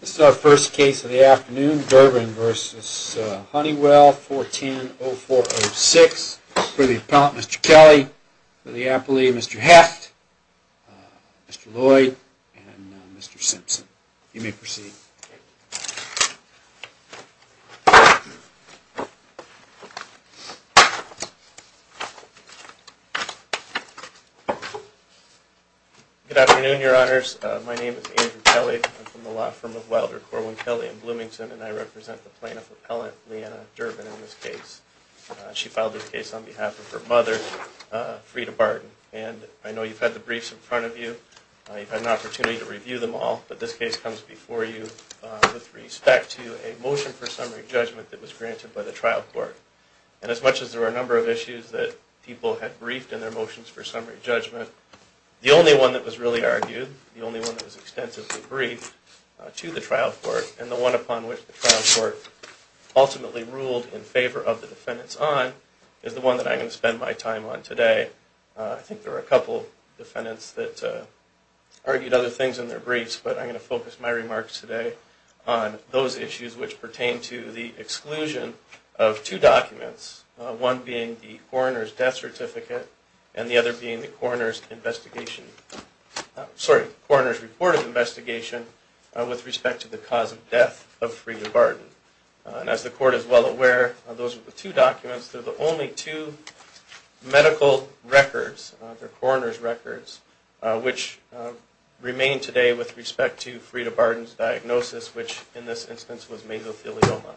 This is our first case of the afternoon, Durbin v. Honeywell, 410-0406, for the appellant Mr. Kelly, for the appellee Mr. Hecht, Mr. Lloyd, and Mr. Simpson. You may proceed. Good afternoon, your honors. My name is Andrew Kelly. I'm from the law firm of Wilder Corwin Kelly in Bloomington, and I represent the plaintiff appellant, Leanna Durbin, in this case. She filed this case on behalf of her mother, Freda Barton, and I know you've had the briefs in front of you. You've had an opportunity to review them all, but this case comes before you with respect to a motion for summary judgment that was granted by the trial court. And as much as there were a number of issues that people had briefed in their motions for summary judgment, the only one that was really argued, the only one that was extensively briefed to the trial court, and the one upon which the trial court ultimately ruled in favor of the defendants on, is the one that I'm going to spend my time on today. I think there were a couple defendants that argued other things in their briefs, but I'm going to focus my remarks today on those issues which pertain to the exclusion of two documents, one being the coroner's death certificate, and the other being the coroner's report of investigation with respect to the cause of death of Freda Barton. And as the court is well aware, those are the two documents, they're the only two medical records, the coroner's records, which remain today with respect to Freda Barton's diagnosis, which in this instance was mesothelioma.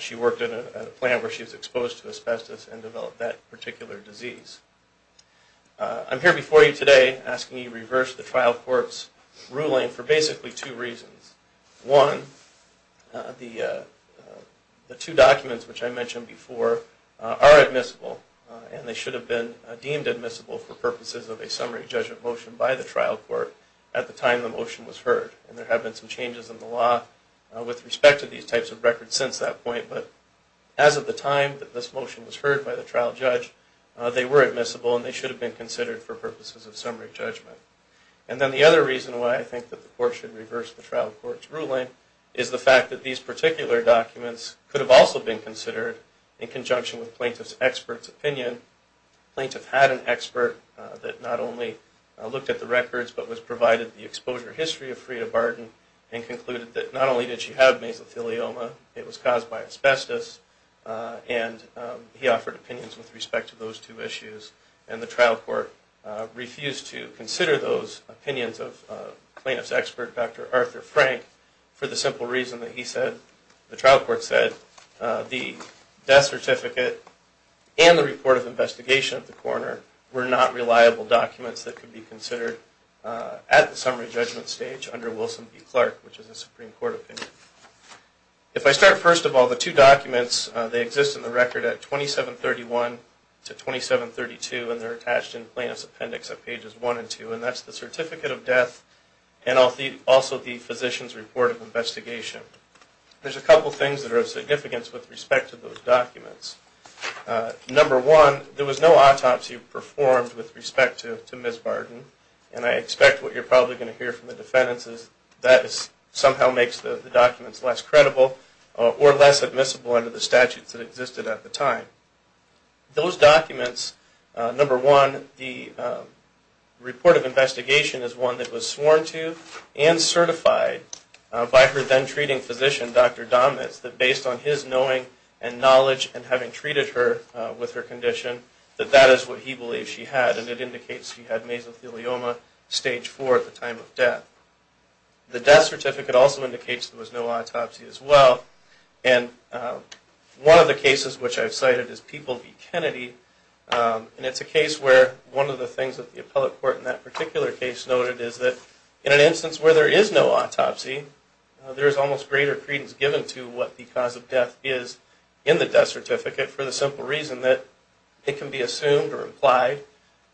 She worked at a plant where she was exposed to asbestos and developed that particular disease. I'm here before you today asking you to reverse the trial court's ruling for basically two reasons. One, the two documents which I mentioned before are admissible, and they should have been deemed admissible for purposes of a summary judgment motion by the trial court at the time the motion was heard. And there have been some changes in the law with respect to these types of records since that point, but as of the time that this motion was heard by the trial judge, they were admissible and they should have been considered for purposes of summary judgment. And then the other reason why I think that the court should reverse the trial court's ruling is the fact that these particular documents could have also been considered in conjunction with plaintiff's expert's opinion. Plaintiff had an expert that not only looked at the records but was provided the exposure history of Freda Barton and concluded that not only did she have mesothelioma, it was caused by asbestos, and he offered opinions with respect to those two issues. And the trial court refused to consider those opinions of plaintiff's expert, Dr. Arthur Frank, for the simple reason that the trial court said the death certificate and the report of investigation of the coroner were not reliable documents that could be considered at the summary judgment stage under Wilson v. Clark, which is a Supreme Court opinion. If I start first of all, the two documents, they exist in the record at 2731 to 2732 and they're attached in plaintiff's appendix at pages 1 and 2, and that's the certificate of death and also the physician's report of investigation. There's a couple things that are of significance with respect to those documents. Number one, there was no autopsy performed with respect to Ms. Barton, and I expect what you're probably going to hear from the defendants is that somehow makes the documents less credible or less admissible under the statutes that existed at the time. Those documents, number one, the report of investigation is one that was sworn to and certified by her then treating physician, Dr. Domitz, that based on his knowing and knowledge and having treated her with her condition, that that is what he believes she had, and it indicates she had mesothelioma stage 4 at the time of death. The death certificate also indicates there was no autopsy as well, and one of the cases which I've cited is People v. Kennedy, and it's a case where one of the things that the appellate court in that particular case noted is that in an instance where there is no autopsy, there is almost greater credence given to what the cause of death is in the death certificate for the simple reason that it can be assumed or implied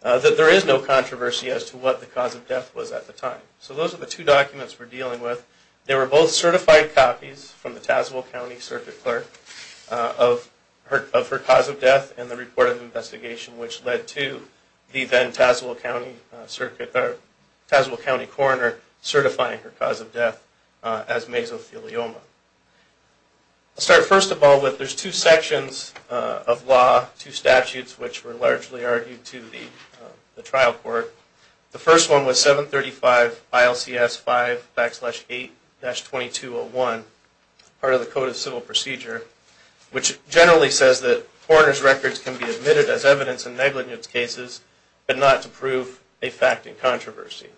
that there is no controversy as to what the cause of death was at the time. So those are the two documents we're dealing with. They were both certified copies from the Tazewell County circuit clerk of her cause of death and the report of investigation which led to the then Tazewell County coroner certifying her cause of death as mesothelioma. I'll start first of all with there's two sections of law, two statutes which were largely argued to the trial court. The first one was 735 ILCS 5 backslash 8-2201, part of the Code of Civil Procedure, which generally says that coroner's records can be admitted as evidence in negligence cases but not to prove a fact in controversy.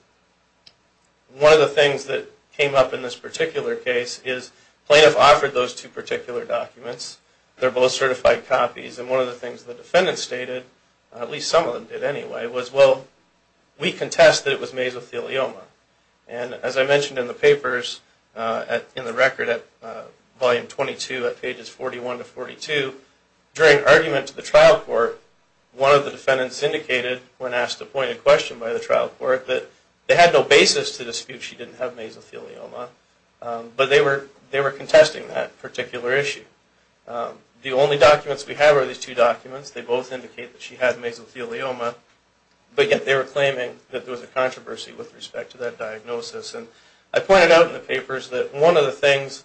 One of the things that came up in this particular case is plaintiff offered those two particular documents. They're both certified copies and one of the things the defendant stated, at least some of them did anyway, was well, we contest that it was mesothelioma. And as I mentioned in the papers, in the record at volume 22 at pages 41 to 42, during argument to the trial court, one of the defendants indicated when asked a pointed question by the trial court that they had no basis to dispute she didn't have mesothelioma, but they were contesting that particular issue. The only documents we have are these two documents. They both indicate that she had mesothelioma, but yet they were claiming that there was a controversy with respect to that diagnosis. I pointed out in the papers that one of the things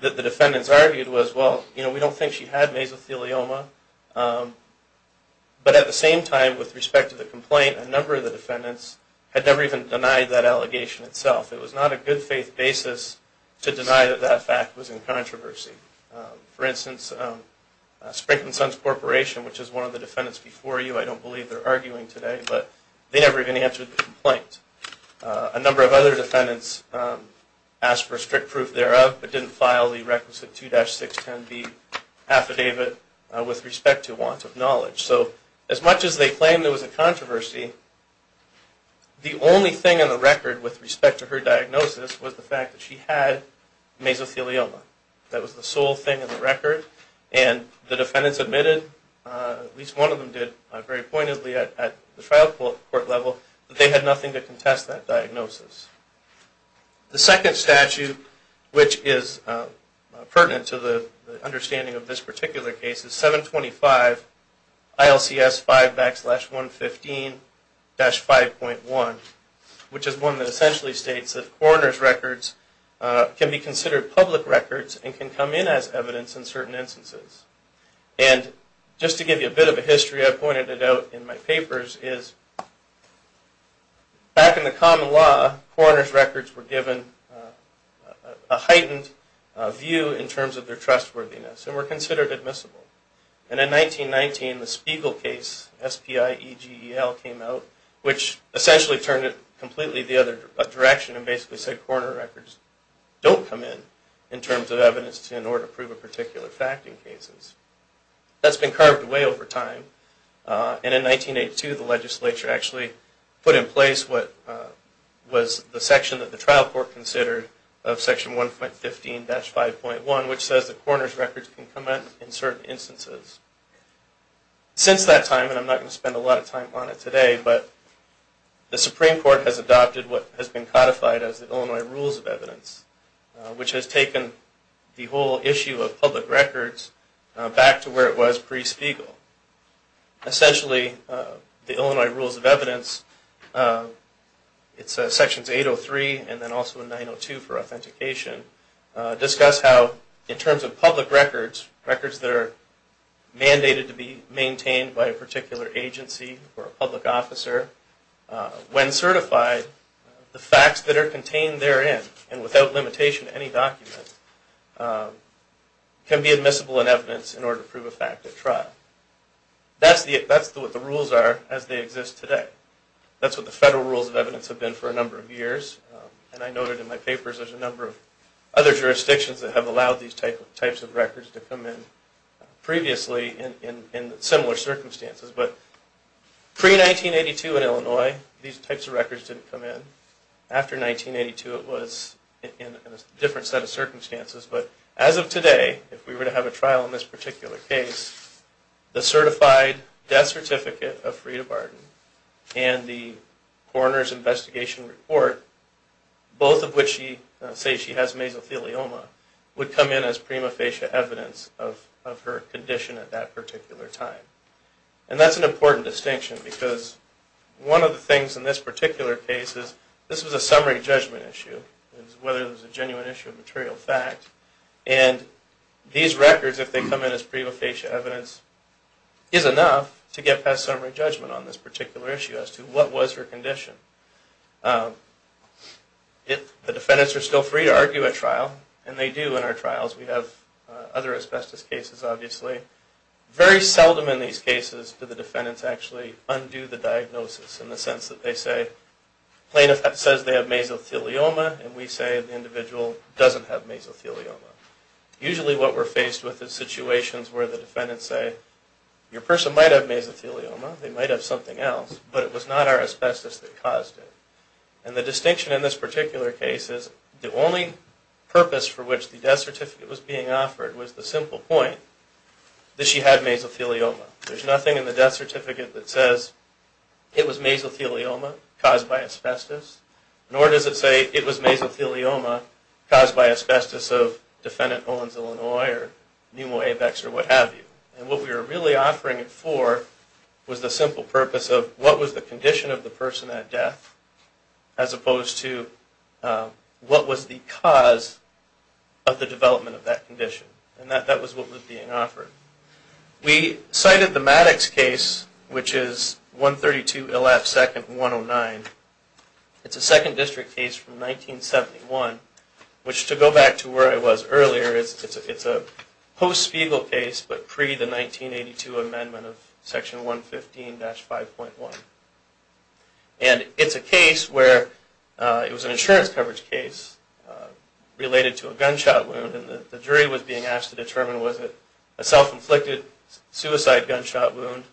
that the defendants argued was, well, we don't think she had mesothelioma, but at the same time, with respect to the complaint, a number of the defendants had never even denied that allegation itself. It was not a good faith basis to deny that that fact was in controversy. For instance, Sprick & Sons Corporation, which is one of the defendants before you, I don't believe they're arguing today, but they never even answered the complaint. A number of other defendants asked for strict proof thereof, but didn't file the requisite 2-610B affidavit with respect to want of knowledge. So as much as they claim there was a controversy, the only thing on the record with respect to her diagnosis was the fact that she had mesothelioma. That was the sole thing on the record, and the defendants admitted, at least one of them did very pointedly at the trial court level, that they had nothing to contest that diagnosis. The second statute, which is pertinent to the understanding of this particular case, is 725 ILCS 5-115-5.1, which is one that essentially states that coroner's records can be considered public records and can come in as evidence in certain instances. And just to give you a bit of a history, I pointed it out in my papers, is back in the common law, coroner's records were given a heightened view in terms of their trustworthiness and were considered admissible. And in 1919, the Spiegel case, S-P-I-E-G-E-L, came out, which essentially turned it completely the other direction and basically said coroner records don't come in in terms of evidence in order to prove a particular fact in cases. That's been carved away over time, and in 1982, the legislature actually put in place what was the section that the trial court considered of section 1.15-5.1, which says that coroner's records can come in in certain instances. Since that time, and I'm not going to spend a lot of time on it today, but the Supreme Court has adopted what has been codified as the Illinois Rules of Evidence, which has taken the whole issue of public records back to where it was pre-Spiegel. Essentially, the Illinois Rules of Evidence, it's sections 803 and then also 902 for authentication, discuss how in terms of public records, records that are mandated to be maintained by a particular agency or a public officer, when certified, the facts that are contained therein, and without limitation to any document, can be admissible in evidence in order to prove a fact at trial. That's what the rules are as they exist today. That's what the federal rules of evidence have been for a number of years, and I noted in my papers there's a number of other jurisdictions that have allowed these types of records to come in previously in similar circumstances. But pre-1982 in Illinois, these types of records didn't come in. After 1982, it was in a different set of circumstances. But as of today, if we were to have a trial in this particular case, the certified death certificate of Freda Barton and the coroner's investigation report, both of which say she has mesothelioma, would come in as prima facie evidence of her condition at that particular time. And that's an important distinction because one of the things in this particular case is this was a summary judgment issue, whether it was a genuine issue of material fact. And these records, if they come in as prima facie evidence, is enough to get past summary judgment on this particular issue as to what was her condition. The defendants are still free to argue at trial, and they do in our trials. We have other asbestos cases obviously. Very seldom in these cases do the defendants actually undo the diagnosis in the sense that they say plaintiff says they have mesothelioma and we say the individual doesn't have mesothelioma. Usually what we're faced with is situations where the defendants say your person might have mesothelioma, they might have something else, but it was not our asbestos that caused it. And the distinction in this particular case is the only purpose for which the death certificate was being offered was the simple point that she had mesothelioma. There's nothing in the death certificate that says it was mesothelioma caused by asbestos, nor does it say it was mesothelioma caused by asbestos of defendant Owens, Illinois or Nemo Apex or what have you. And what we were really offering it for was the simple purpose of what was the condition of the person at death as opposed to what was the cause of the development of that condition. And that was what was being offered. We cited the Maddox case, which is 132 ILF Second 109. It's a second district case from 1971, which to go back to where I was earlier, it's a post-Spiegel case but pre the 1982 amendment of Section 115-5.1. And it's a case where it was an insurance coverage case related to a gunshot wound and the jury was being asked to determine was it a self-inflicted injury or a gunshot wound. Was it a self-inflicted suicide gunshot wound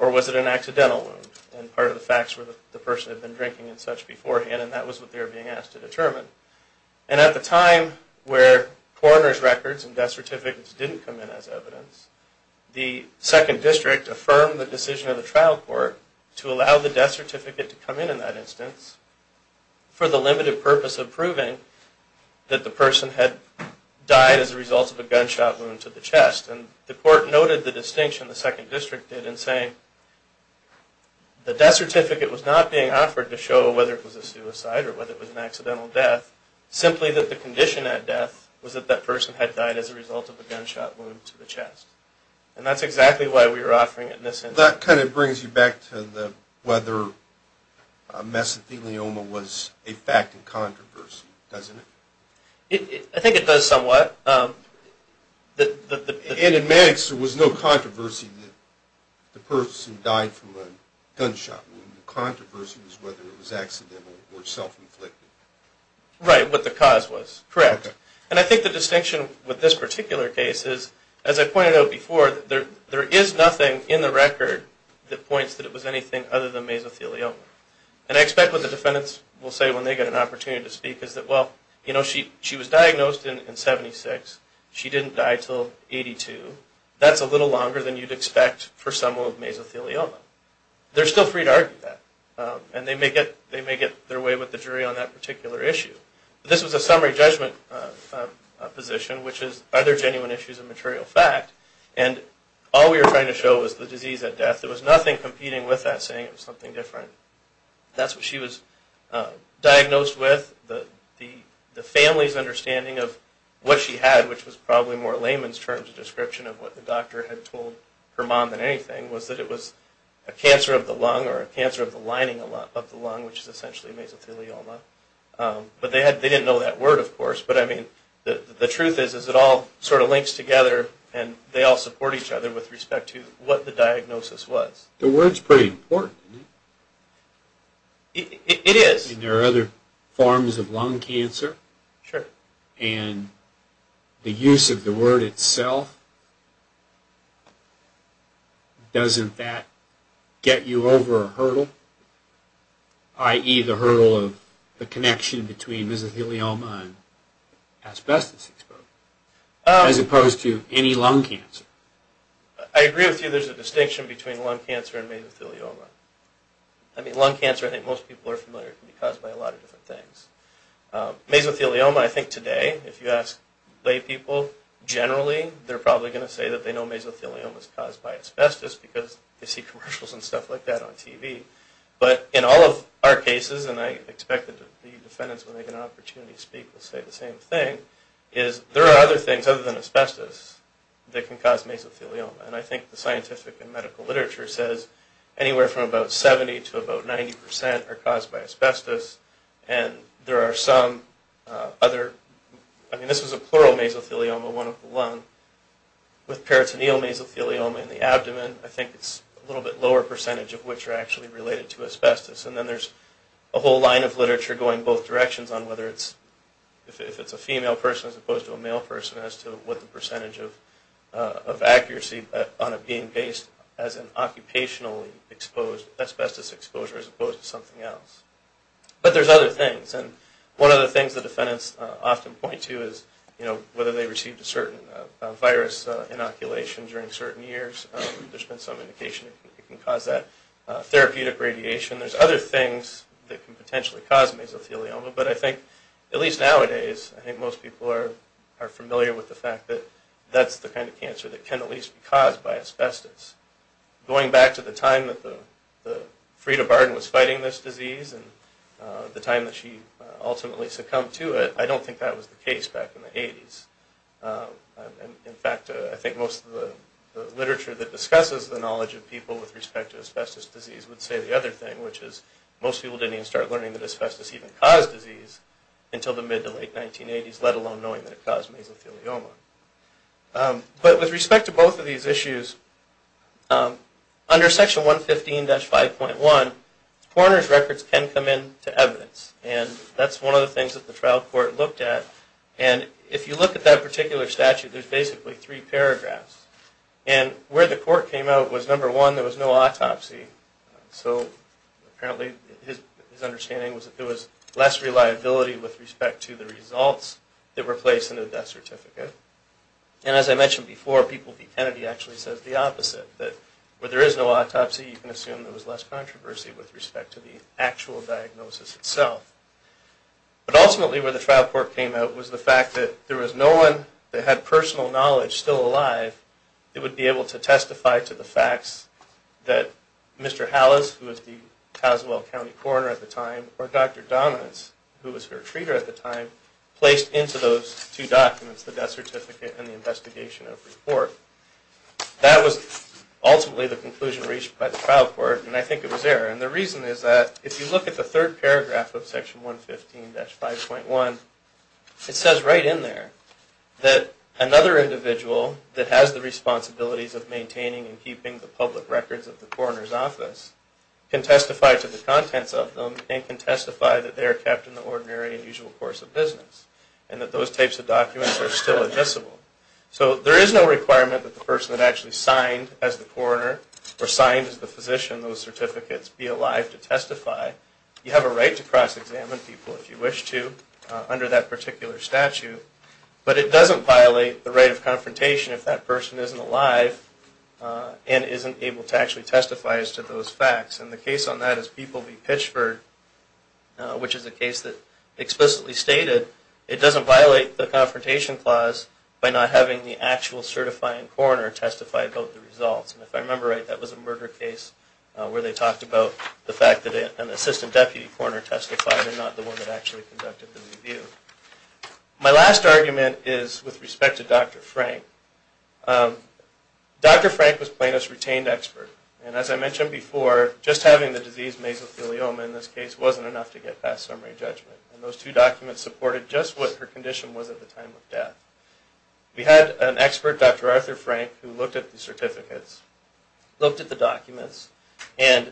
or was it an accidental wound and part of the facts were the person had been drinking and such beforehand and that was what they were being asked to determine. And at the time where coroner's records and death certificates didn't come in as evidence, the second district affirmed the decision of the trial court to allow the death certificate to come in in that instance for the limited purpose of proving that the person had died as a result of a gunshot wound to the chest. And the court noted the distinction the second district did in saying the death certificate was not being offered to show whether it was a suicide or whether it was an accidental death, simply that the condition at death was that that person had died as a result of a gunshot wound to the chest. And that's exactly why we were offering it in this instance. That kind of brings you back to whether mesothelioma was a fact in controversy, doesn't it? I think it does somewhat. And in Maddox there was no controversy that the person died from a gunshot wound. The controversy was whether it was accidental or self-inflicted. Right, what the cause was, correct. And I think the distinction with this particular case is, as I pointed out before, there is nothing in the record that points that it was anything other than mesothelioma. And I expect what the defendants will say when they get an opportunity to speak is that, well, you know, she was diagnosed in 1976. She didn't die until 1982. That's a little longer than you'd expect for someone with mesothelioma. They're still free to argue that. And they may get their way with the jury on that particular issue. This was a summary judgment position, which is, are there genuine issues of material fact? And all we were trying to show was the disease at death. There was nothing competing with that, saying it was something different. That's what she was diagnosed with. The family's understanding of what she had, which was probably more layman's terms of description of what the doctor had told her mom than anything, was that it was a cancer of the lung or a cancer of the lining of the lung, which is essentially mesothelioma. But they didn't know that word, of course. But, I mean, the truth is, is it all sort of links together, and they all support each other with respect to what the diagnosis was. The word's pretty important, isn't it? It is. And there are other forms of lung cancer. Sure. And the use of the word itself, doesn't that get you over a hurdle, i.e., the hurdle of the connection between mesothelioma and asbestos exposure, as opposed to any lung cancer? I agree with you. There's a distinction between lung cancer and mesothelioma. I mean, lung cancer, I think most people are familiar, can be caused by a lot of different things. Mesothelioma, I think today, if you ask lay people, generally, they're probably going to say that they know mesothelioma is caused by asbestos because they see commercials and stuff like that on TV. But in all of our cases, and I expect that the defendants, when they get an opportunity to speak, will say the same thing, is there are other things other than asbestos that can cause mesothelioma. And I think the scientific and medical literature says anywhere from about 70 to about 90 percent are caused by asbestos. And there are some other, I mean, this is a plural mesothelioma, one of the lung, with peritoneal mesothelioma in the abdomen, I think it's a little bit lower percentage of which are actually related to asbestos. And then there's a whole line of literature going both directions on whether it's, if it's a female person as opposed to a male person, as to what the percentage of accuracy on it being based as an occupationally exposed asbestos exposure as opposed to something else. But there's other things. And one of the things the defendants often point to is, you know, whether they received a certain virus inoculation during certain years. There's been some indication it can cause that. Therapeutic radiation. There's other things that can potentially cause mesothelioma. But I think, at least nowadays, I think most people are familiar with the fact that that's the kind of cancer that can at least be caused by asbestos. Going back to the time that Freda Barden was fighting this disease and the time that she ultimately succumbed to it, I don't think that was the case back in the 80s. In fact, I think most of the literature that discusses the knowledge of people with respect to asbestos disease would say the other thing, which is most people didn't even start learning that asbestos even caused disease until the mid to late 1980s, let alone knowing that it caused mesothelioma. But with respect to both of these issues, under Section 115-5.1, coroner's records can come in to evidence. And that's one of the things that the trial court looked at. And if you look at that particular statute, there's basically three paragraphs. And where the court came out was, number one, there was no autopsy. So apparently his understanding was that there was less reliability with respect to the results that were placed in the death certificate. And as I mentioned before, People v. Kennedy actually says the opposite, that where there is no autopsy, you can assume there was less controversy with respect to the actual diagnosis itself. But ultimately where the trial court came out was the fact that there was no one that had personal knowledge still alive that would be able to testify to the facts that Mr. Hallis, who was the Tazewell County coroner at the time, or Dr. Dominance, who was her treater at the time, placed into those two documents, the death certificate and the investigation of report. That was ultimately the conclusion reached by the trial court, and I think it was there. And the reason is that if you look at the third paragraph of Section 115-5.1, it says right in there that another individual that has the responsibilities of maintaining and keeping the public records of the coroner's office can testify to the contents of them and can testify that they are kept in the ordinary and usual course of business and that those types of documents are still admissible. So there is no requirement that the person that actually signed as the coroner You have a right to cross-examine people if you wish to under that particular statute, but it doesn't violate the right of confrontation if that person isn't alive and isn't able to actually testify as to those facts. And the case on that is People v. Pitchford, which is a case that explicitly stated it doesn't violate the confrontation clause by not having the actual certifying coroner testify about the results. And if I remember right, that was a murder case where they talked about the fact that an assistant deputy coroner testified and not the one that actually conducted the review. My last argument is with respect to Dr. Frank. Dr. Frank was Plano's retained expert. And as I mentioned before, just having the disease mesothelioma in this case wasn't enough to get past summary judgment. And those two documents supported just what her condition was at the time of death. We had an expert, Dr. Arthur Frank, who looked at the certificates, looked at the documents, and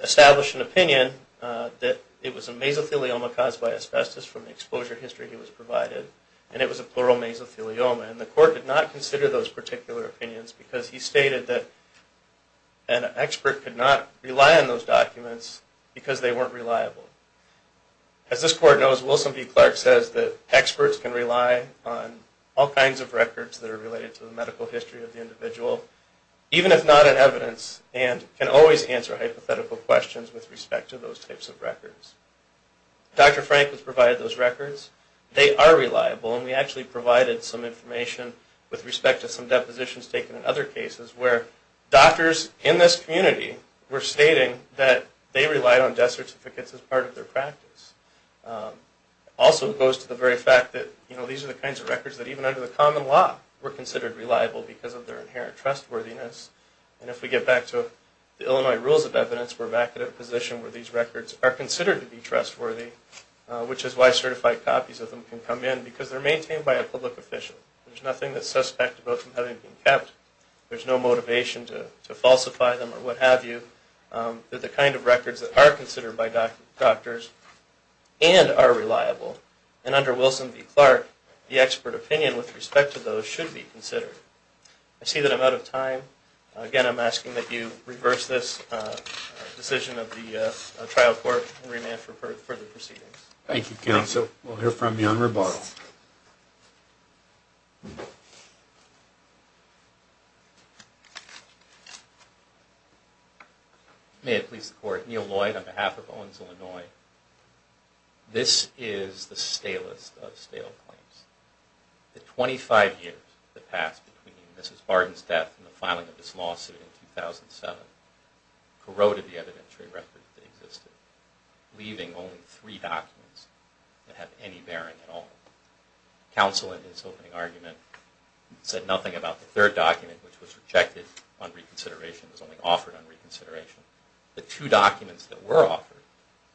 established an opinion that it was a mesothelioma caused by asbestos from the exposure history he was provided, and it was a pleural mesothelioma. And the court did not consider those particular opinions because he stated that an expert could not rely on those documents because they weren't reliable. As this court knows, Wilson v. Clark says that experts can rely on all kinds of records that are related to the medical history of the individual, even if not in evidence, and can always answer hypothetical questions with respect to those types of records. Dr. Frank was provided those records. They are reliable, and we actually provided some information with respect to some depositions taken in other cases where doctors in this community were stating that they relied on death certificates as part of their practice. It also goes to the very fact that these are the kinds of records that, even under the common law, were considered reliable because of their inherent trustworthiness. And if we get back to the Illinois Rules of Evidence, we're back at a position where these records are considered to be trustworthy, which is why certified copies of them can come in, because they're maintained by a public official. There's nothing that's suspect about them having been kept. There's no motivation to falsify them or what have you. They're the kind of records that are considered by doctors and are reliable. And under Wilson v. Clark, the expert opinion with respect to those should be considered. I see that I'm out of time. Again, I'm asking that you reverse this decision of the trial court and remand for further proceedings. Thank you, counsel. We'll hear from you on rebuttal. May it please the Court, Neil Lloyd on behalf of Owens, Illinois. This is the stalest of stale claims. The 25 years that passed between Mrs. Barden's death and the filing of this lawsuit in 2007 corroded the evidentiary records that existed, leaving only three documents that have any bearing at all. Counsel, in his opening argument, said nothing about the third document, which was rejected on reconsideration, was only offered on reconsideration. The two documents that were offered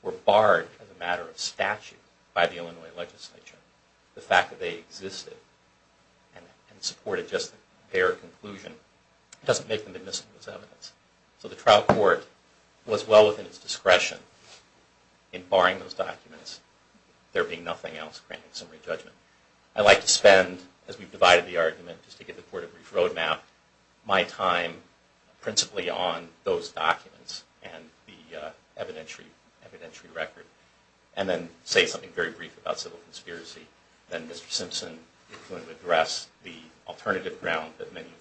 were barred as a matter of statute by the Illinois legislature. The fact that they existed and supported just a bare conclusion doesn't make them admissible as evidence. So the trial court was well within its discretion in barring those documents, there being nothing else granting summary judgment. I'd like to spend, as we've divided the argument, just to give the Court a brief roadmap, my time principally on those documents and the evidentiary record, and then say something very brief about civil conspiracy. Then Mr. Simpson is going to address the alternative ground that many of the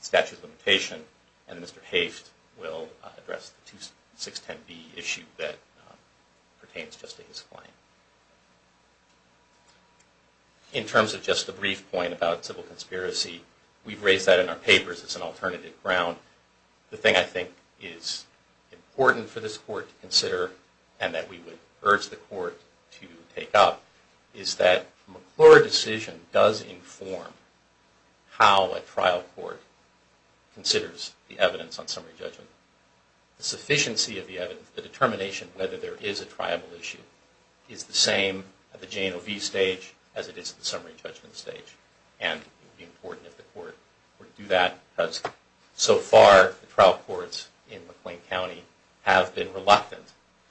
statutes of limitation, and Mr. Haft will address the 610B issue that pertains just to his claim. In terms of just a brief point about civil conspiracy, we've raised that in our papers as an alternative ground. The thing I think is important for this Court to consider, and that we would urge the Court to take up, is that the McClure decision does inform how a trial court considers the evidence on summary judgment. The sufficiency of the evidence, the determination whether there is a triable issue, is the same at the J&OV stage as it is at the summary judgment stage. And it would be important if the Court were to do that, because so far the trial courts in McLean County have been reluctant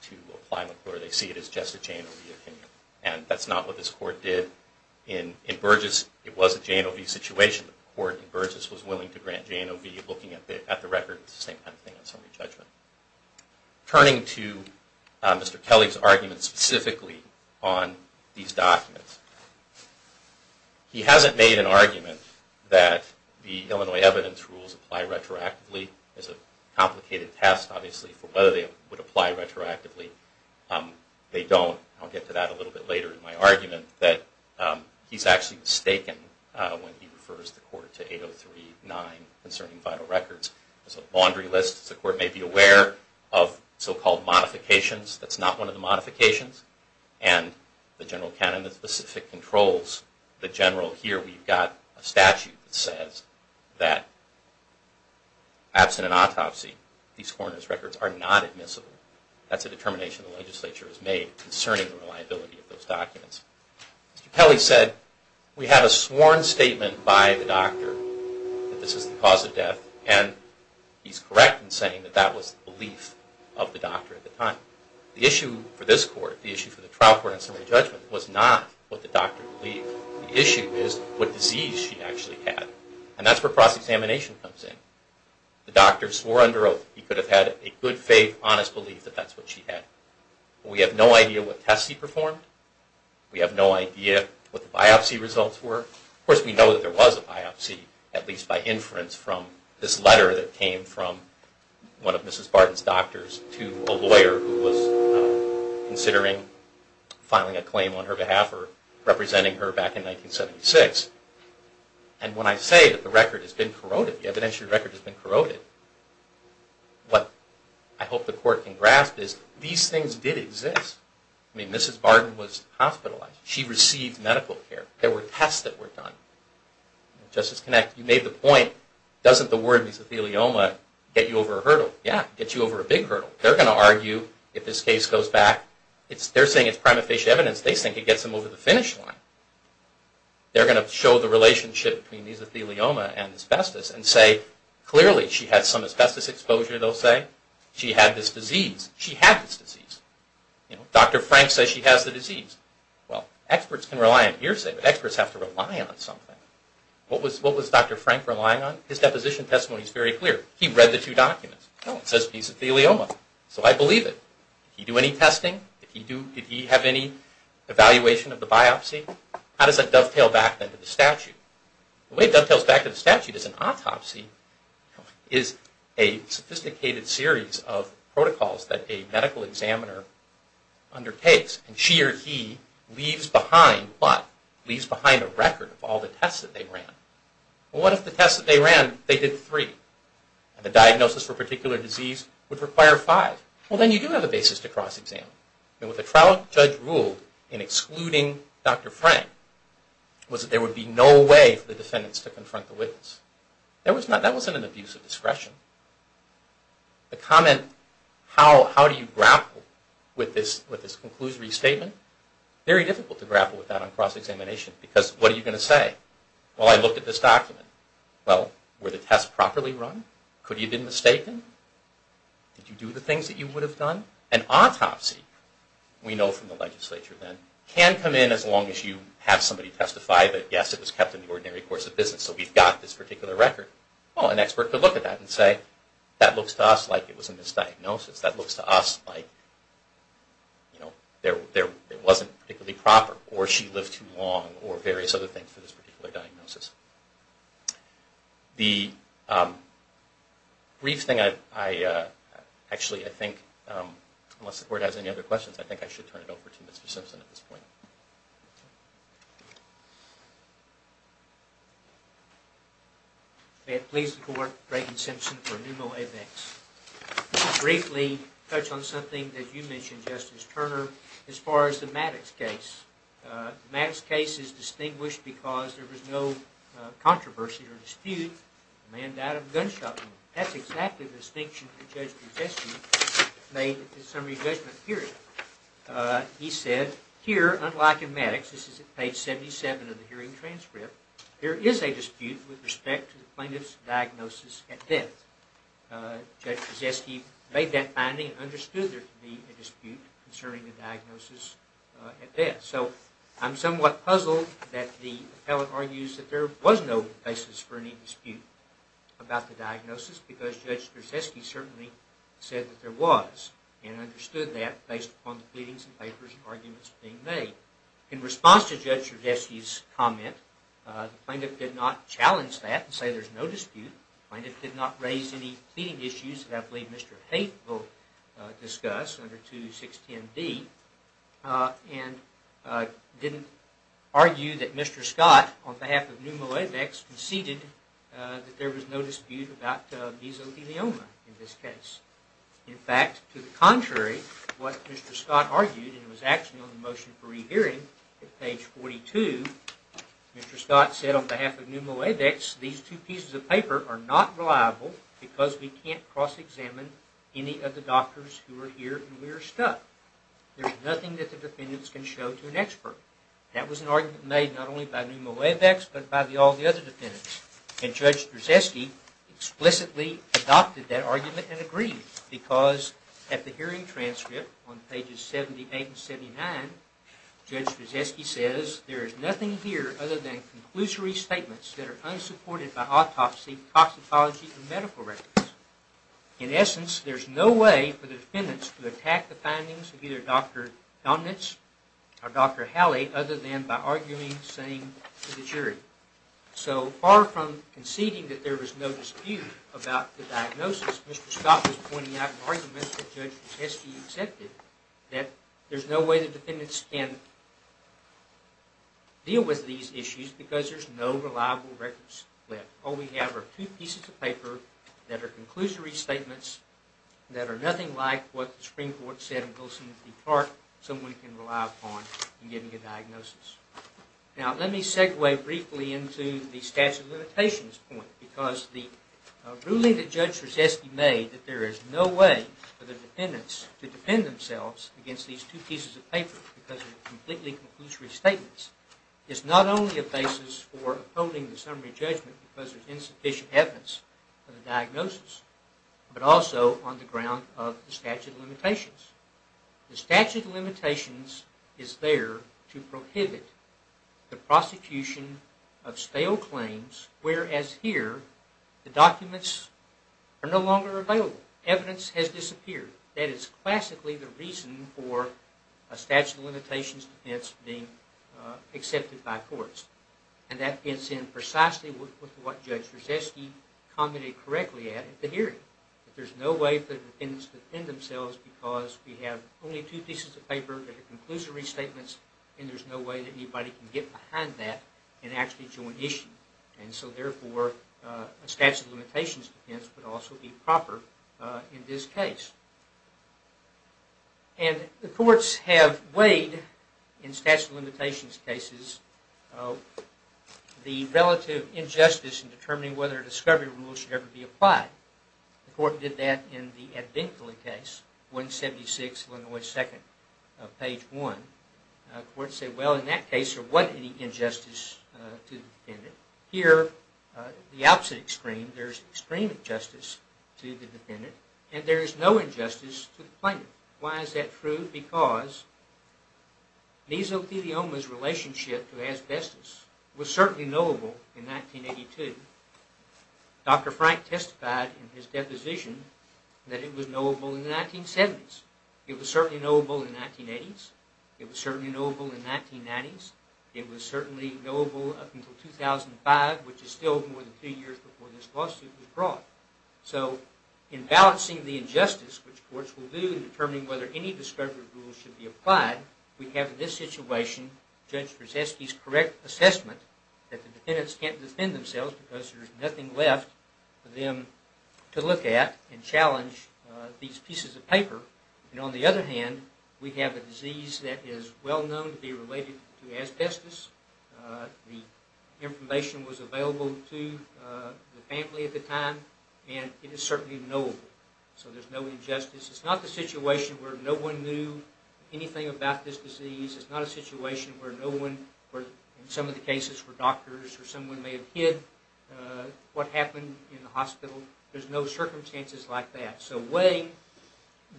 to apply McClure. They see it as just a J&OV opinion. And that's not what this Court did in Burgess. It was a J&OV situation, but the Court in Burgess was willing to grant J&OV looking at the record. It's the same kind of thing as summary judgment. Turning to Mr. Kelly's argument specifically on these documents, he hasn't made an argument that the Illinois evidence rules apply retroactively. It's a complicated test, obviously, for whether they would apply retroactively. They don't. I'll get to that a little bit later in my argument. He's actually mistaken when he refers the Court to 803.9 concerning vital records. It's a laundry list. The Court may be aware of so-called modifications. That's not one of the modifications. And the general canon of specific controls, the general here, you've got a statute that says that absent an autopsy, these coroner's records are not admissible. That's a determination the legislature has made concerning the reliability of those documents. Mr. Kelly said, we have a sworn statement by the doctor that this is the cause of death, and he's correct in saying that that was the belief of the doctor at the time. The issue for this Court, the issue for the trial court in summary judgment, was not what the doctor believed. The issue is what disease she actually had. And that's where cross-examination comes in. The doctor swore under oath he could have had a good faith, honest belief that that's what she had. We have no idea what tests he performed. We have no idea what the biopsy results were. Of course, we know that there was a biopsy, at least by inference from this letter that came from one of Mrs. Barton's doctors to a lawyer who was considering filing a claim on her behalf or representing her back in 1976. And when I say that the record has been corroded, the evidentiary record has been corroded, what I hope the Court can grasp is these things did exist. I mean, Mrs. Barton was hospitalized. She received medical care. There were tests that were done. Justice Connacht, you made the point, doesn't the word mesothelioma get you over a hurdle? Yeah, it gets you over a big hurdle. They're going to argue if this case goes back. They're saying it's prima facie evidence. They think it gets them over the finish line. They're going to show the relationship between mesothelioma and asbestos and say clearly she had some asbestos exposure, they'll say. She had this disease. She had this disease. Dr. Frank says she has the disease. Well, experts can rely on hearsay, but experts have to rely on something. What was Dr. Frank relying on? His deposition testimony is very clear. He read the two documents. It says mesothelioma, so I believe it. Did he do any testing? Did he have any evaluation of the biopsy? How does that dovetail back then to the statute? The way it dovetails back to the statute is an autopsy is a sophisticated series of protocols that a medical examiner undertakes, and she or he leaves behind what? Leaves behind a record of all the tests that they ran. Well, what if the tests that they ran, they did three, and the diagnosis for a particular disease would require five? Well, then you do have a basis to cross-examine. With a trial, a judge ruled in excluding Dr. Frank was that there would be no way for the defendants to confront the witness. That wasn't an abuse of discretion. The comment, how do you grapple with this conclusory statement, very difficult to grapple with that on cross-examination because what are you going to say? Well, I looked at this document. Well, were the tests properly run? Could he have been mistaken? Did you do the things that you would have done? An autopsy, we know from the legislature then, can come in as long as you have somebody testify that yes, it was kept in the ordinary course of business, so we've got this particular record. Well, an expert could look at that and say, that looks to us like it was a misdiagnosis. That looks to us like it wasn't particularly proper, or she lived too long, or various other things for this particular diagnosis. The brief thing I, actually I think, unless the Court has any other questions, I think I should turn it over to Mr. Simpson at this point. May it please the Court, Brayden Simpson for NUMO-ABEX. Just briefly, touch on something that you mentioned, Justice Turner, as far as the Maddox case. The Maddox case is distinguished because there was no controversy or dispute. The man died of a gunshot wound. That's exactly the distinction that Judge Brzezinski made at the summary judgment period. He said, here, unlike in Maddox, this is page 77 of the hearing transcript, there is a dispute with respect to the plaintiff's diagnosis at death. Judge Brzezinski made that finding and understood there to be a dispute concerning the diagnosis at death. I'm somewhat puzzled that the appellate argues that there was no basis for any dispute about the diagnosis, because Judge Brzezinski certainly said that there was, and understood that based upon the pleadings and papers and arguments being made. In response to Judge Brzezinski's comment, the plaintiff did not challenge that and say there's no dispute. The plaintiff did not raise any pleading issues that I believe Mr. Haight will discuss under 2610B and didn't argue that Mr. Scott, on behalf of Pneumoavex, conceded that there was no dispute about mesothelioma in this case. In fact, to the contrary, what Mr. Scott argued, and it was actually on the motion for rehearing at page 42, Mr. Scott said on behalf of Pneumoavex, these two pieces of paper are not reliable because we can't cross-examine any of the doctors who are here and we are stuck. There's nothing that the defendants can show to an expert. That was an argument made not only by Pneumoavex, but by all the other defendants. And Judge Brzezinski explicitly adopted that argument and agreed, because at the hearing transcript on pages 78 and 79, Judge Brzezinski says, there is nothing here other than conclusory statements that are unsupported by autopsy, toxicology, and medical records. In essence, there's no way for the defendants to attack the findings of either Dr. Donitz or Dr. Halley other than by arguing the same to the jury. So far from conceding that there was no dispute about the diagnosis, Mr. Scott was pointing out an argument that Judge Brzezinski accepted, that there's no way the defendants can deal with these issues because there's no reliable records left. All we have are two pieces of paper that are conclusory statements that are nothing like what the Supreme Court said in Wilson v. Clark someone can rely upon in getting a diagnosis. Now let me segue briefly into the statute of limitations point because the ruling that Judge Brzezinski made, that there is no way for the defendants to defend themselves against these two pieces of paper because they're completely conclusory statements, is not only a basis for upholding the summary judgment because there's insufficient evidence for the diagnosis, but also on the ground of the statute of limitations. The statute of limitations is there to prohibit the prosecution of stale claims whereas here the documents are no longer available. Evidence has disappeared. That is classically the reason for a statute of limitations defense being accepted by courts. And that fits in precisely with what Judge Brzezinski commented correctly at the hearing. There's no way for the defendants to defend themselves because we have only two pieces of paper that are conclusory statements and there's no way that anybody can get behind that and actually join the issue. And so therefore a statute of limitations defense would also be proper in this case. And the courts have weighed in statute of limitations cases the relative injustice in determining whether a discovery rule should ever be applied. The court did that in the Advinculi case, 176 Illinois 2nd, page 1. The court said, well, in that case there wasn't any injustice to the defendant. Here, the opposite extreme, there's extreme injustice to the defendant and there is no injustice to the plaintiff. Why is that true? Because mesothelioma's relationship to asbestos was certainly knowable in 1982. Dr. Frank testified in his deposition that it was knowable in the 1970s. It was certainly knowable in the 1980s. It was certainly knowable in the 1990s. It was certainly knowable up until 2005, which is still more than two years before this lawsuit was brought. So in balancing the injustice, which courts will do in determining whether any discovery rule should be applied, we have in this situation Judge Brzezinski's correct assessment that the defendants can't defend themselves because there's nothing left for them to look at and challenge these pieces of paper. On the other hand, we have a disease that is well known to be related to asbestos. The information was available to the family at the time and it is certainly knowable. So there's no injustice. It's not the situation where no one knew anything about this disease. It's not a situation where no one, or in some of the cases where doctors or someone may have hid what happened in the hospital. There's no circumstances like that. So weighing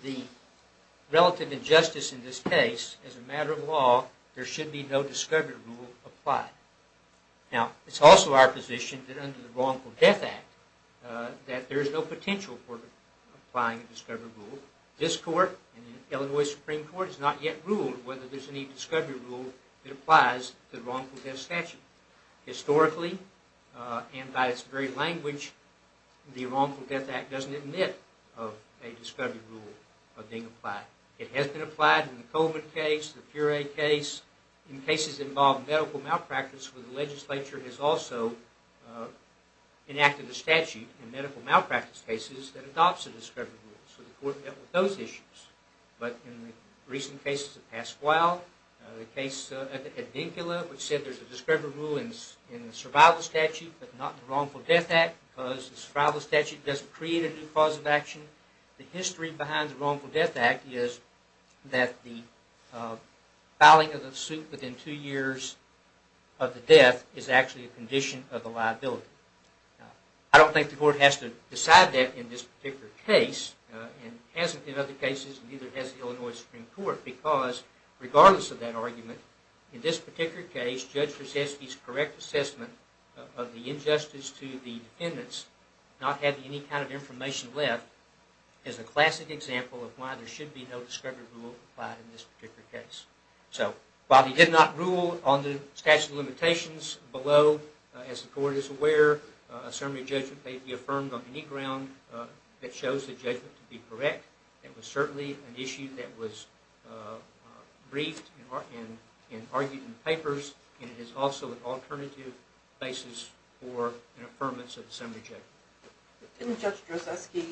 the relative injustice in this case, as a matter of law, there should be no discovery rule applied. Now, it's also our position that under the Wrongful Death Act that there's no potential for applying a discovery rule. This court, the Illinois Supreme Court, has not yet ruled whether there's any discovery rule that applies to the wrongful death statute. Historically, and by its very language, the Wrongful Death Act doesn't admit of a discovery rule being applied. It has been applied in the COVID case, the puree case, in cases involving medical malpractice where the legislature has also enacted a statute in medical malpractice cases that adopts a discovery rule. So the court dealt with those issues. But in the recent cases of Pasquale, the case at Dinkula, which said there's a discovery rule in the survival statute, but not in the Wrongful Death Act because the survival statute doesn't create a new cause of action. The history behind the Wrongful Death Act is that the filing of the suit within two years of the death is actually a condition of the liability. I don't think the court has to decide that in this particular case, and hasn't in other cases, and neither has the Illinois Supreme Court, because regardless of that argument, in this particular case, Judge Verzesky's correct assessment of the injustice to the defendants, not having any kind of information left, is a classic example of why there should be no discovery rule applied in this particular case. While he did not rule on the statute of limitations below, as the court is aware, a summary judgment may be affirmed on any ground that shows the judgment to be correct. It was certainly an issue that was briefed and argued in the papers, and it is also an alternative basis for an affirmance of the summary judgment. Didn't Judge Verzesky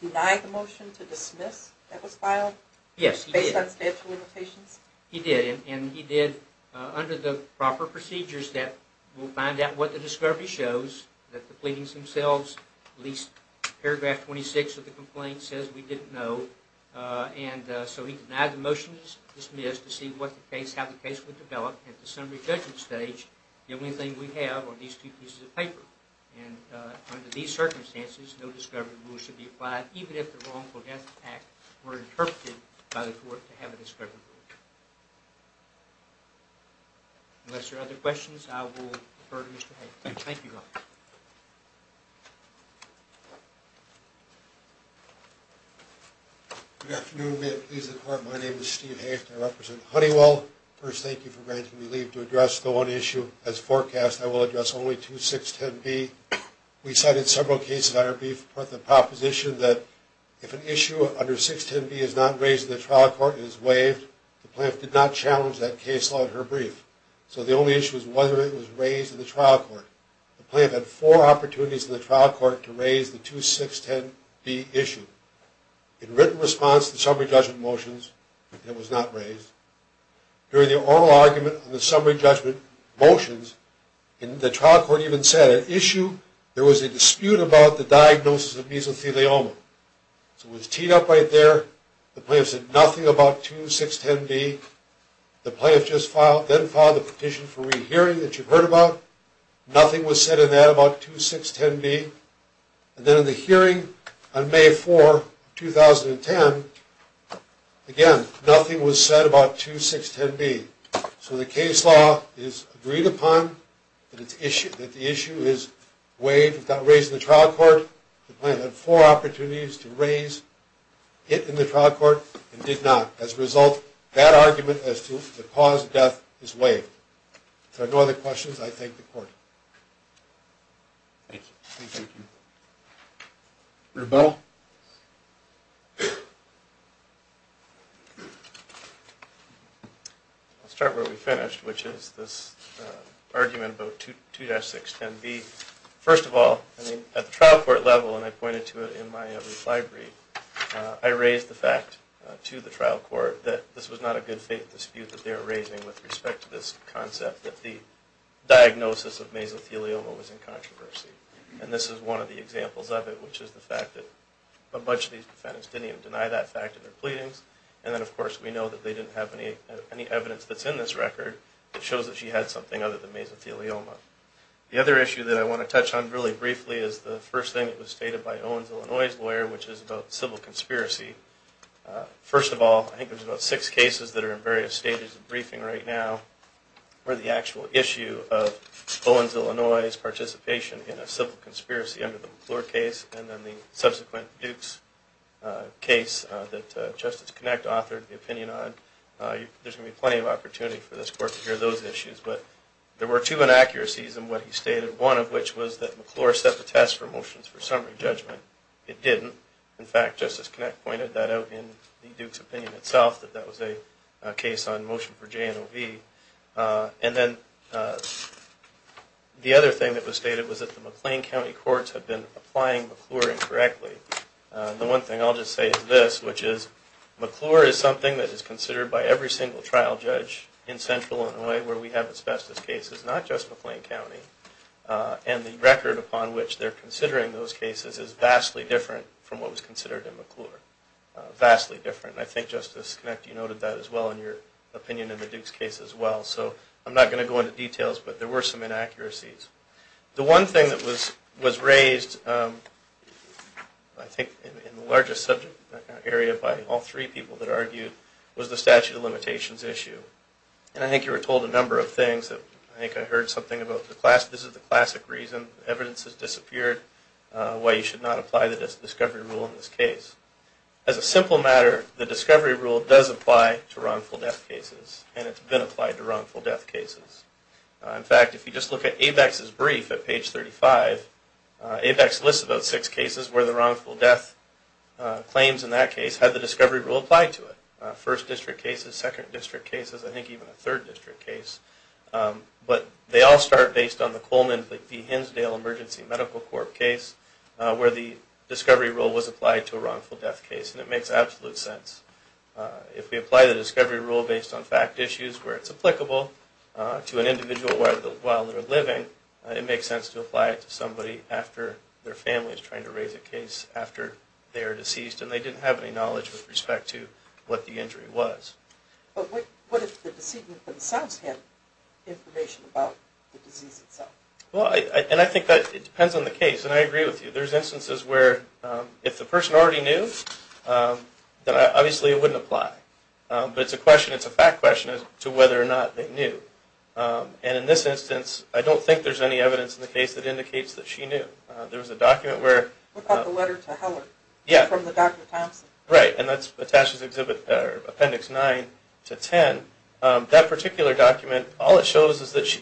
deny the motion to dismiss that was filed? Yes, he did. Based on statute of limitations? He did, and he did under the proper procedures that will find out what the discovery shows, that the pleadings themselves, at least paragraph 26 of the complaint says we didn't know, and so he denied the motion to dismiss to see how the case would develop at the summary judgment stage. The only thing we have are these two pieces of paper, and under these circumstances, no discovery rule should be applied, even if the wrongful death act were interpreted by the court to have a discovery rule. Unless there are other questions, I will defer to Mr. Hayes. Thank you. Good afternoon. May it please the Court, my name is Steve Hayes, and I represent Honeywell. First, thank you for granting me leave to address the one issue. As forecast, I will address only 2610B. We cited several cases under brief, but the proposition that if an issue under 610B is not raised in the trial court and is waived, the plaintiff did not challenge that case law in her brief. So the only issue is whether it was raised in the trial court. The plaintiff had four opportunities in the trial court to raise the 2610B issue. In written response to the summary judgment motions, it was not raised. During the oral argument on the summary judgment motions, the trial court even said an issue, there was a dispute about the diagnosis of mesothelioma. So it was teed up right there. The plaintiff said nothing about 2610B. The plaintiff then filed a petition for rehearing that you've heard about. Nothing was said in that about 2610B. And then in the hearing on May 4, 2010, again, nothing was said about 2610B. So the case law is agreed upon that the issue is waived without raising the trial court. The plaintiff had four opportunities to raise it in the trial court and did not. As a result, that argument as to the cause of death is waived. If there are no other questions, I thank the court. Thank you. Thank you. Thank you. Rebuttal? I'll start where we finished, which is this argument about 2610B. First of all, at the trial court level, and I pointed to it in my reply brief, I raised the fact to the trial court that this was not a good faith dispute that they were raising with respect to this concept that the diagnosis of mesothelioma was in controversy. And this is one of the examples of it, which is the fact that a bunch of these defendants didn't even deny that fact in their pleadings. And then, of course, we know that they didn't have any evidence that's in this record that shows that she had something other than mesothelioma. The other issue that I want to touch on really briefly is the first thing that was stated by Owens, Illinois' lawyer, which is about civil conspiracy. First of all, I think there's about six cases that are in various stages of briefing right now where the actual issue of Owens, Illinois' participation in a civil conspiracy under the McClure case and then the subsequent Dukes case that Justice Kinect authored the opinion on. There's going to be plenty of opportunity for this court to hear those issues. But there were two inaccuracies in what he stated, one of which was that McClure set the test for motions for summary judgment. It didn't. In fact, Justice Kinect pointed that out in the Dukes opinion itself, that that was a case on motion for JNOV. And then the other thing that was stated was that the McLean County courts had been applying McClure incorrectly. The one thing I'll just say is this, which is McClure is something that is considered by every single trial judge in Central Illinois where we have its bestest cases, not just McLean County, and the record upon which they're considering those cases is vastly different from what was considered in McClure. Vastly different. And I think Justice Kinect, you noted that as well in your opinion in the Dukes case as well. So I'm not going to go into details, but there were some inaccuracies. The one thing that was raised, I think in the largest subject area by all three people that argued, was the statute of limitations issue. And I think you were told a number of things. I think I heard something about this is the classic reason evidence has disappeared, why you should not apply the discovery rule in this case. As a simple matter, the discovery rule does apply to wrongful death cases, and it's been applied to wrongful death cases. In fact, if you just look at ABEX's brief at page 35, ABEX lists about six cases where the wrongful death claims in that case had the discovery rule applied to it. First district cases, second district cases, I think even a third district case. But they all start based on the Coleman v. Hinsdale Emergency Medical Corp case where the discovery rule was applied to a wrongful death case, and it makes absolute sense. If we apply the discovery rule based on fact issues where it's applicable to an individual while they're living, it makes sense to apply it to somebody after their family is trying to raise a case after they are deceased and they didn't have any knowledge with respect to what the injury was. But what if the decedent themselves had information about the disease itself? Well, and I think that it depends on the case, and I agree with you. There's instances where if the person already knew, then obviously it wouldn't apply. But it's a question, it's a fact question as to whether or not they knew. And in this instance, I don't think there's any evidence in the case that indicates that she knew. There was a document where... What about the letter to Heller from the Dr. Thompson? Right, and that's attached to Appendix 9 to 10. That particular document, all it shows is that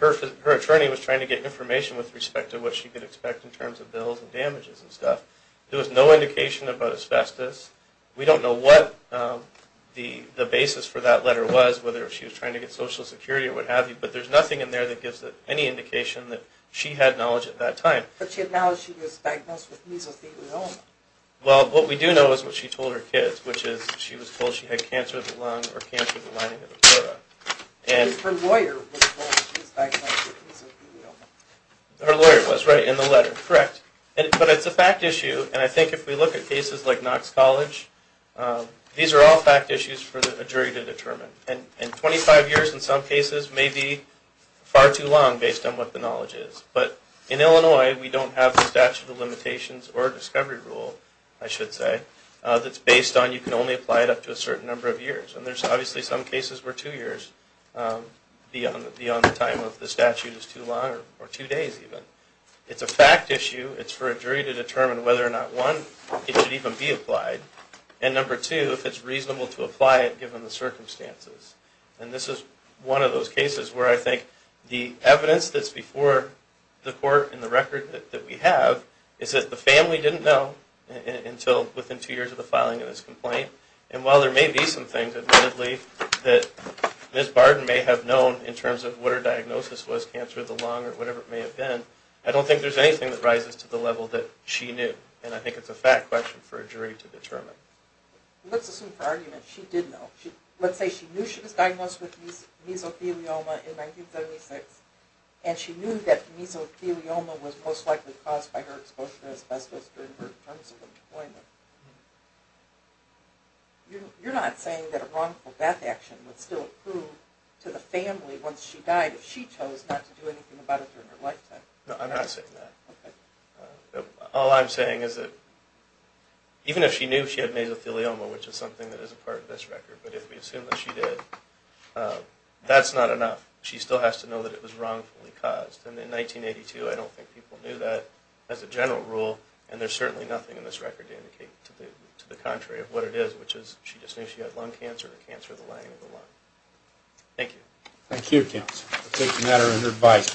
her attorney was trying to get information with respect to what she could expect in terms of bills and damages and stuff. There was no indication about asbestos. We don't know what the basis for that letter was, whether she was trying to get Social Security or what have you, but there's nothing in there that gives any indication that she had knowledge at that time. But she had knowledge she was diagnosed with mesothelioma. Well, what we do know is what she told her kids, which is she was told she had cancer of the lung or cancer of the lining of the pleura. Her lawyer was told she was diagnosed with mesothelioma. Her lawyer was, right, in the letter, correct. But it's a fact issue, and I think if we look at cases like Knox College, these are all fact issues for a jury to determine. And 25 years in some cases may be far too long based on what the knowledge is. But in Illinois, we don't have the statute of limitations or discovery rule, I should say, that's based on you can only apply it up to a certain number of years. And there's obviously some cases where two years beyond the time of the statute is too long, or two days even. It's a fact issue. It's for a jury to determine whether or not, one, it should even be applied, and number two, if it's reasonable to apply it given the circumstances. And this is one of those cases where I think the evidence that's before the court and the record that we have is that the family didn't know until within two years of the filing of this complaint. And while there may be some things, admittedly, that Ms. Barden may have known in terms of what her diagnosis was, cancer of the lung or whatever it may have been, I don't think there's anything that rises to the level that she knew. And I think it's a fact question for a jury to determine. Let's assume for argument she did know. Let's say she knew she was diagnosed with mesothelioma in 1976, and she knew that mesothelioma was most likely caused by her exposure to asbestos during her terms of employment. You're not saying that a wrongful death action would still approve to the family once she died if she chose not to do anything about it during her lifetime? No, I'm not saying that. All I'm saying is that even if she knew she had mesothelioma, which is something that isn't part of this record, but if we assume that she did, that's not enough. She still has to know that it was wrongfully caused. And in 1982, I don't think people knew that as a general rule, and there's certainly nothing in this record to indicate to the contrary of what it is, which is she just knew she had lung cancer or cancer of the lung. Thank you. Thank you, counsel. We'll take a matter under advice.